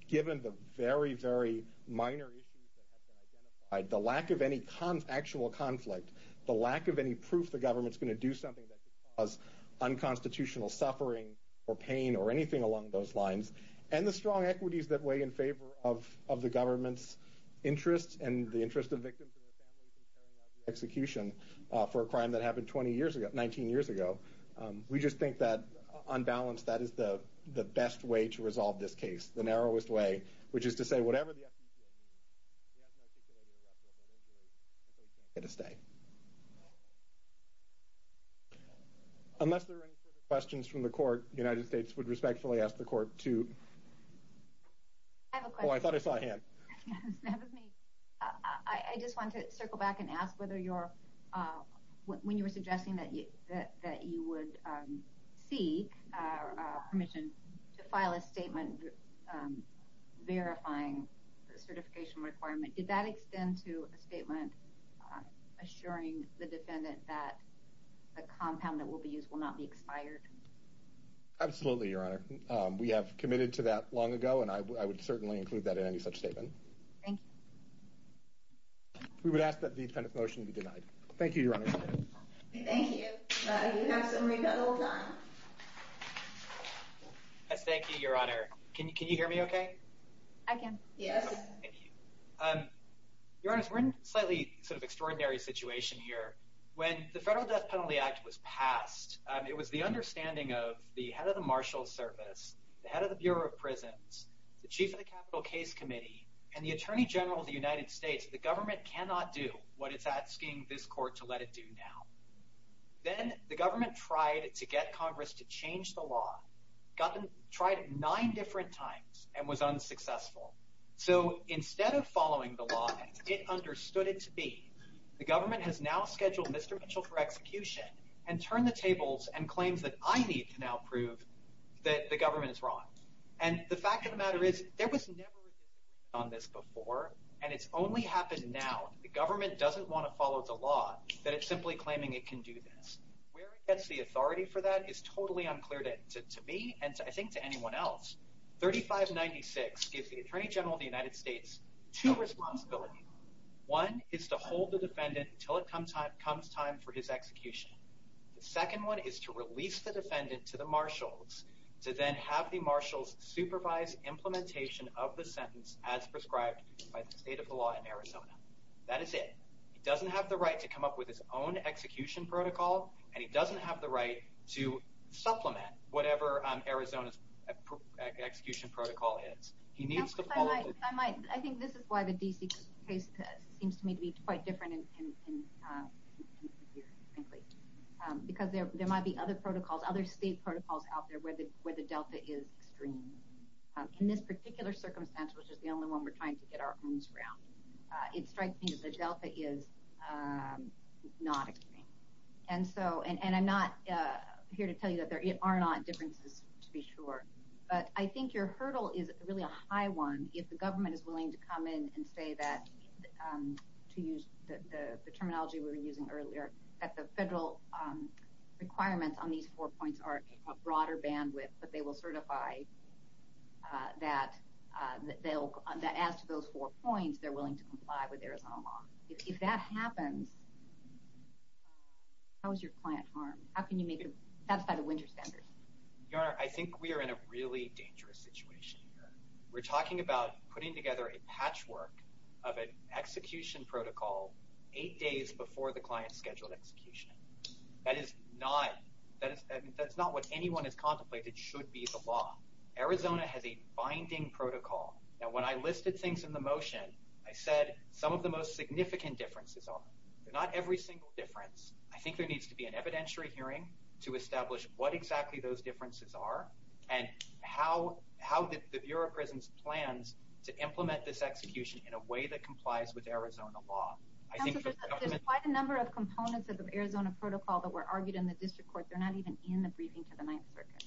given the very, very minor issues that have been identified, the lack of any actual conflict, the lack of any proof the government's going to do something that could cause unconstitutional suffering or pain or anything along those lines, and the strong equities that weigh in favor of the government's interest and the interest of victims and their families in carrying out the execution for a crime that happened 20 years ago, 19 years ago, we just think that on balance that is the best way to resolve this case, the narrowest way, which is to say whatever the FDPA needs, we have an articulated reference, and we're going to do what we can to stay. Unless there are any further questions from the court, the United States would respectfully ask the court to... I have a question. Oh, I thought I saw a hand. That was me. I just wanted to circle back and ask whether when you were suggesting that you would seek permission to file a statement verifying the certification requirement, did that extend to a statement assuring the defendant that a compound that will be used will not be expired? Absolutely, Your Honor. We have committed to that long ago, and I would certainly include that in any such statement. Thank you. We would ask that the defendant's motion be denied. Thank you, Your Honor. Thank you. You have some remittal time. Thank you, Your Honor. Can you hear me okay? I can. Yes. Thank you. Your Honor, we're in a slightly sort of extraordinary situation here. When the Federal Death Penalty Act was passed, it was the understanding of the head of the Marshals Service, the head of the Bureau of Prisons, the Chief of the Capitol Case Committee, and the Attorney General of the United States that the government cannot do what it's asking this court to let it do now. Then the government tried to get Congress to change the law. It tried it nine different times and was unsuccessful. Instead of following the law as it understood it to be, the government has now scheduled Mr. Mitchell for execution and turned the tables and claims that I need to now prove that the government is wrong. The fact of the matter is there was never a decision made on this before, and it's only happened now that the government doesn't want to follow the law, that it's simply claiming it can do this. Where it gets the authority for that is totally unclear to me and I think to anyone else. 3596 gives the Attorney General of the United States two responsibilities. One is to hold the defendant until it comes time for his execution. The second one is to release the defendant to the Marshals to then have the Marshals supervise implementation of the sentence as prescribed by the state of the law in Arizona. That is it. He doesn't have the right to come up with his own execution protocol, and he doesn't have the right to supplement whatever Arizona's execution protocol is. I think this is why the D.C. case seems to me to be quite different here, frankly, because there might be other state protocols out there where the delta is extreme. In this particular circumstance, which is the only one we're trying to get our arms around, it strikes me that the delta is not extreme. And I'm not here to tell you that there are not differences, to be sure, but I think your hurdle is really a high one if the government is willing to come in and say that, to use the terminology we were using earlier, that the federal requirements on these four points are a broader bandwidth, but they will certify that as to those four points, they're willing to comply with Arizona law. If that happens, how is your client harmed? How can you satisfy the winter standards? Your Honor, I think we are in a really dangerous situation here. We're talking about putting together a patchwork of an execution protocol eight days before the client's scheduled execution. That is not what anyone has contemplated should be the law. Arizona has a binding protocol. Now, when I listed things in the motion, I said some of the most significant differences are. They're not every single difference. I think there needs to be an evidentiary hearing to establish what exactly those differences are and how the Bureau of Prisons plans to implement this execution in a way that complies with Arizona law. Counsel, there's quite a number of components of the Arizona protocol that were argued in the district court. They're not even in the briefing to the Ninth Circuit.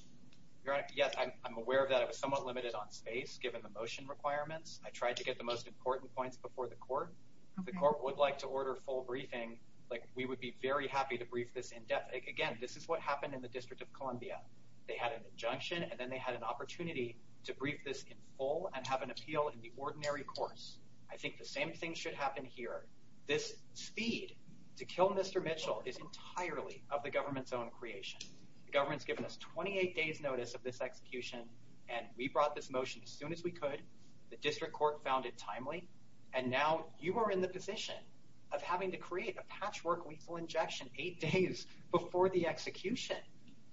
Your Honor, yes, I'm aware of that. I was somewhat limited on space given the motion requirements. I tried to get the most important points before the court. If the court would like to order full briefing, we would be very happy to brief this in depth. Again, this is what happened in the District of Columbia. They had an injunction, and then they had an opportunity to brief this in full and have an appeal in the ordinary course. I think the same thing should happen here. This speed to kill Mr. Mitchell is entirely of the government's own creation. The government's given us 28 days' notice of this execution, and we brought this motion as soon as we could. The district court found it timely, and now you are in the position of having to create a patchwork lethal injection eight days before the execution.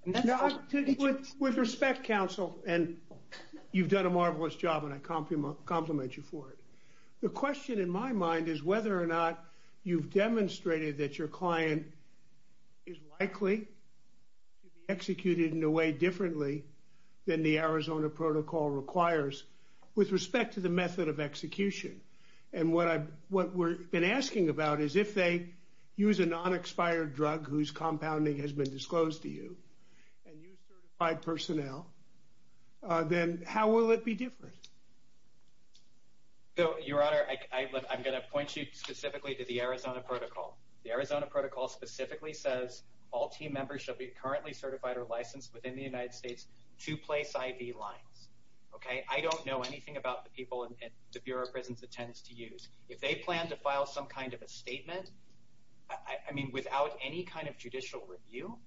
With respect, counsel, and you've done a marvelous job, and I compliment you for it. The question in my mind is whether or not you've demonstrated that your client is likely to be executed in a way differently than the Arizona protocol requires with respect to the method of execution. What we've been asking about is if they use a non-expired drug whose compounding has been disclosed to you and use certified personnel, then how will it be different? Your Honor, I'm going to point you specifically to the Arizona protocol. The Arizona protocol specifically says all team members shall be currently certified or licensed within the United States to place IV lines. I don't know anything about the people at the Bureau of Prisons that tends to use. If they plan to file some kind of a statement, I mean, without any kind of judicial review,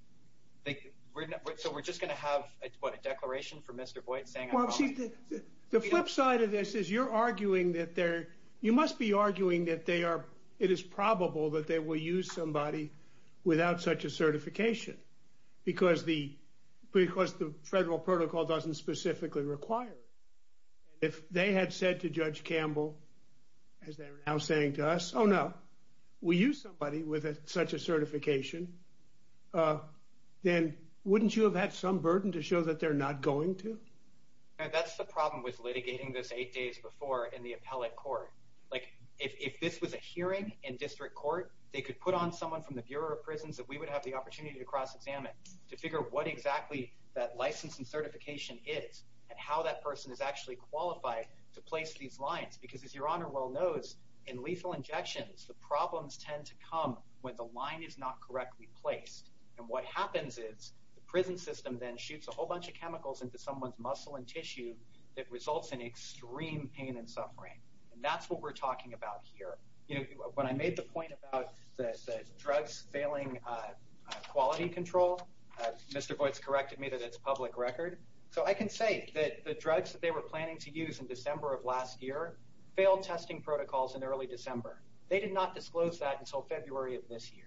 so we're just going to have a declaration from Mr. Boyd saying I'm wrong? The flip side of this is you're arguing that they're – you must be arguing that they are – it is probable that they will use somebody without such a certification because the federal protocol doesn't specifically require it. If they had said to Judge Campbell, as they are now saying to us, oh, no, we use somebody with such a certification, then wouldn't you have had some burden to show that they're not going to? That's the problem with litigating this eight days before in the appellate court. Like, if this was a hearing in district court, they could put on someone from the Bureau of Prisons that we would have the opportunity to cross-examine to figure what exactly that license and certification is and how that person is actually qualified to place these lines. Because as Your Honor well knows, in lethal injections, the problems tend to come when the line is not correctly placed. And what happens is the prison system then shoots a whole bunch of chemicals into someone's muscle and tissue that results in extreme pain and suffering. And that's what we're talking about here. When I made the point about the drugs failing quality control, Mr. Voights corrected me that it's public record. So I can say that the drugs that they were planning to use in December of last year failed testing protocols in early December. They did not disclose that until February of this year.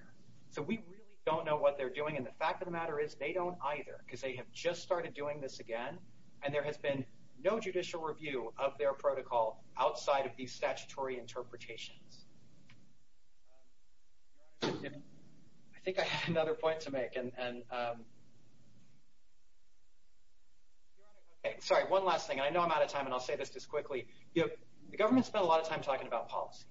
So we really don't know what they're doing. And the fact of the matter is they don't either because they have just started doing this again, and there has been no judicial review of their protocol outside of these statutory interpretations. Your Honor, I think I have another point to make. And Your Honor, okay, sorry, one last thing. I know I'm out of time, and I'll say this just quickly. The government spent a lot of time talking about policy,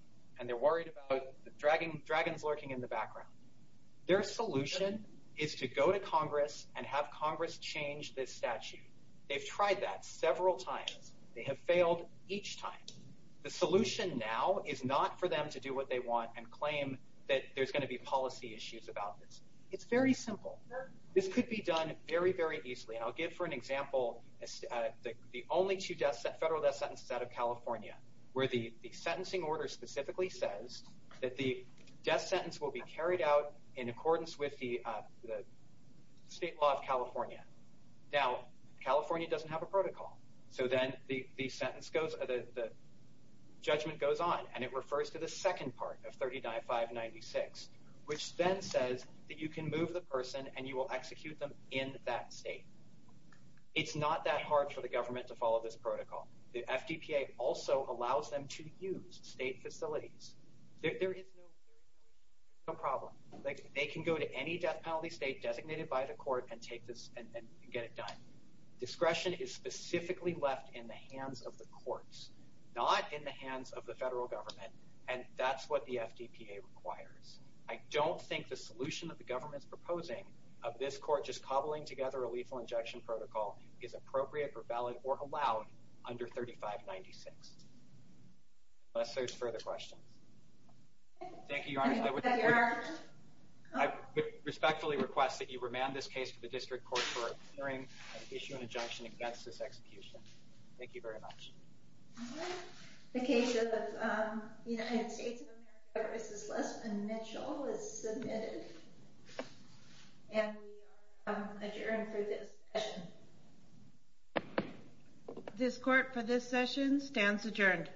Their solution is to go to Congress and have Congress change this statute. They've tried that several times. They have failed each time. The solution now is not for them to do what they want and claim that there's going to be policy issues about this. It's very simple. This could be done very, very easily. And I'll give for an example the only two federal death sentences out of California where the sentencing order specifically says that the death sentence will be carried out in accordance with the state law of California. Now, California doesn't have a protocol. So then the judgment goes on, and it refers to the second part of 39-596, which then says that you can move the person and you will execute them in that state. It's not that hard for the government to follow this protocol. The FDPA also allows them to use state facilities. There is no problem. They can go to any death penalty state designated by the court and get it done. Discretion is specifically left in the hands of the courts, not in the hands of the federal government, and that's what the FDPA requires. I don't think the solution that the government is proposing of this court which is cobbling together a lethal injection protocol is appropriate or valid or allowed under 35-96. Unless there's further questions. Thank you, Your Honor. I respectfully request that you remand this case to the district court for a hearing of the issue and injunction against this execution. Thank you very much. The case of the United States of America v. Lesmond Mitchell is submitted. And we are adjourned for this session. This court for this session stands adjourned.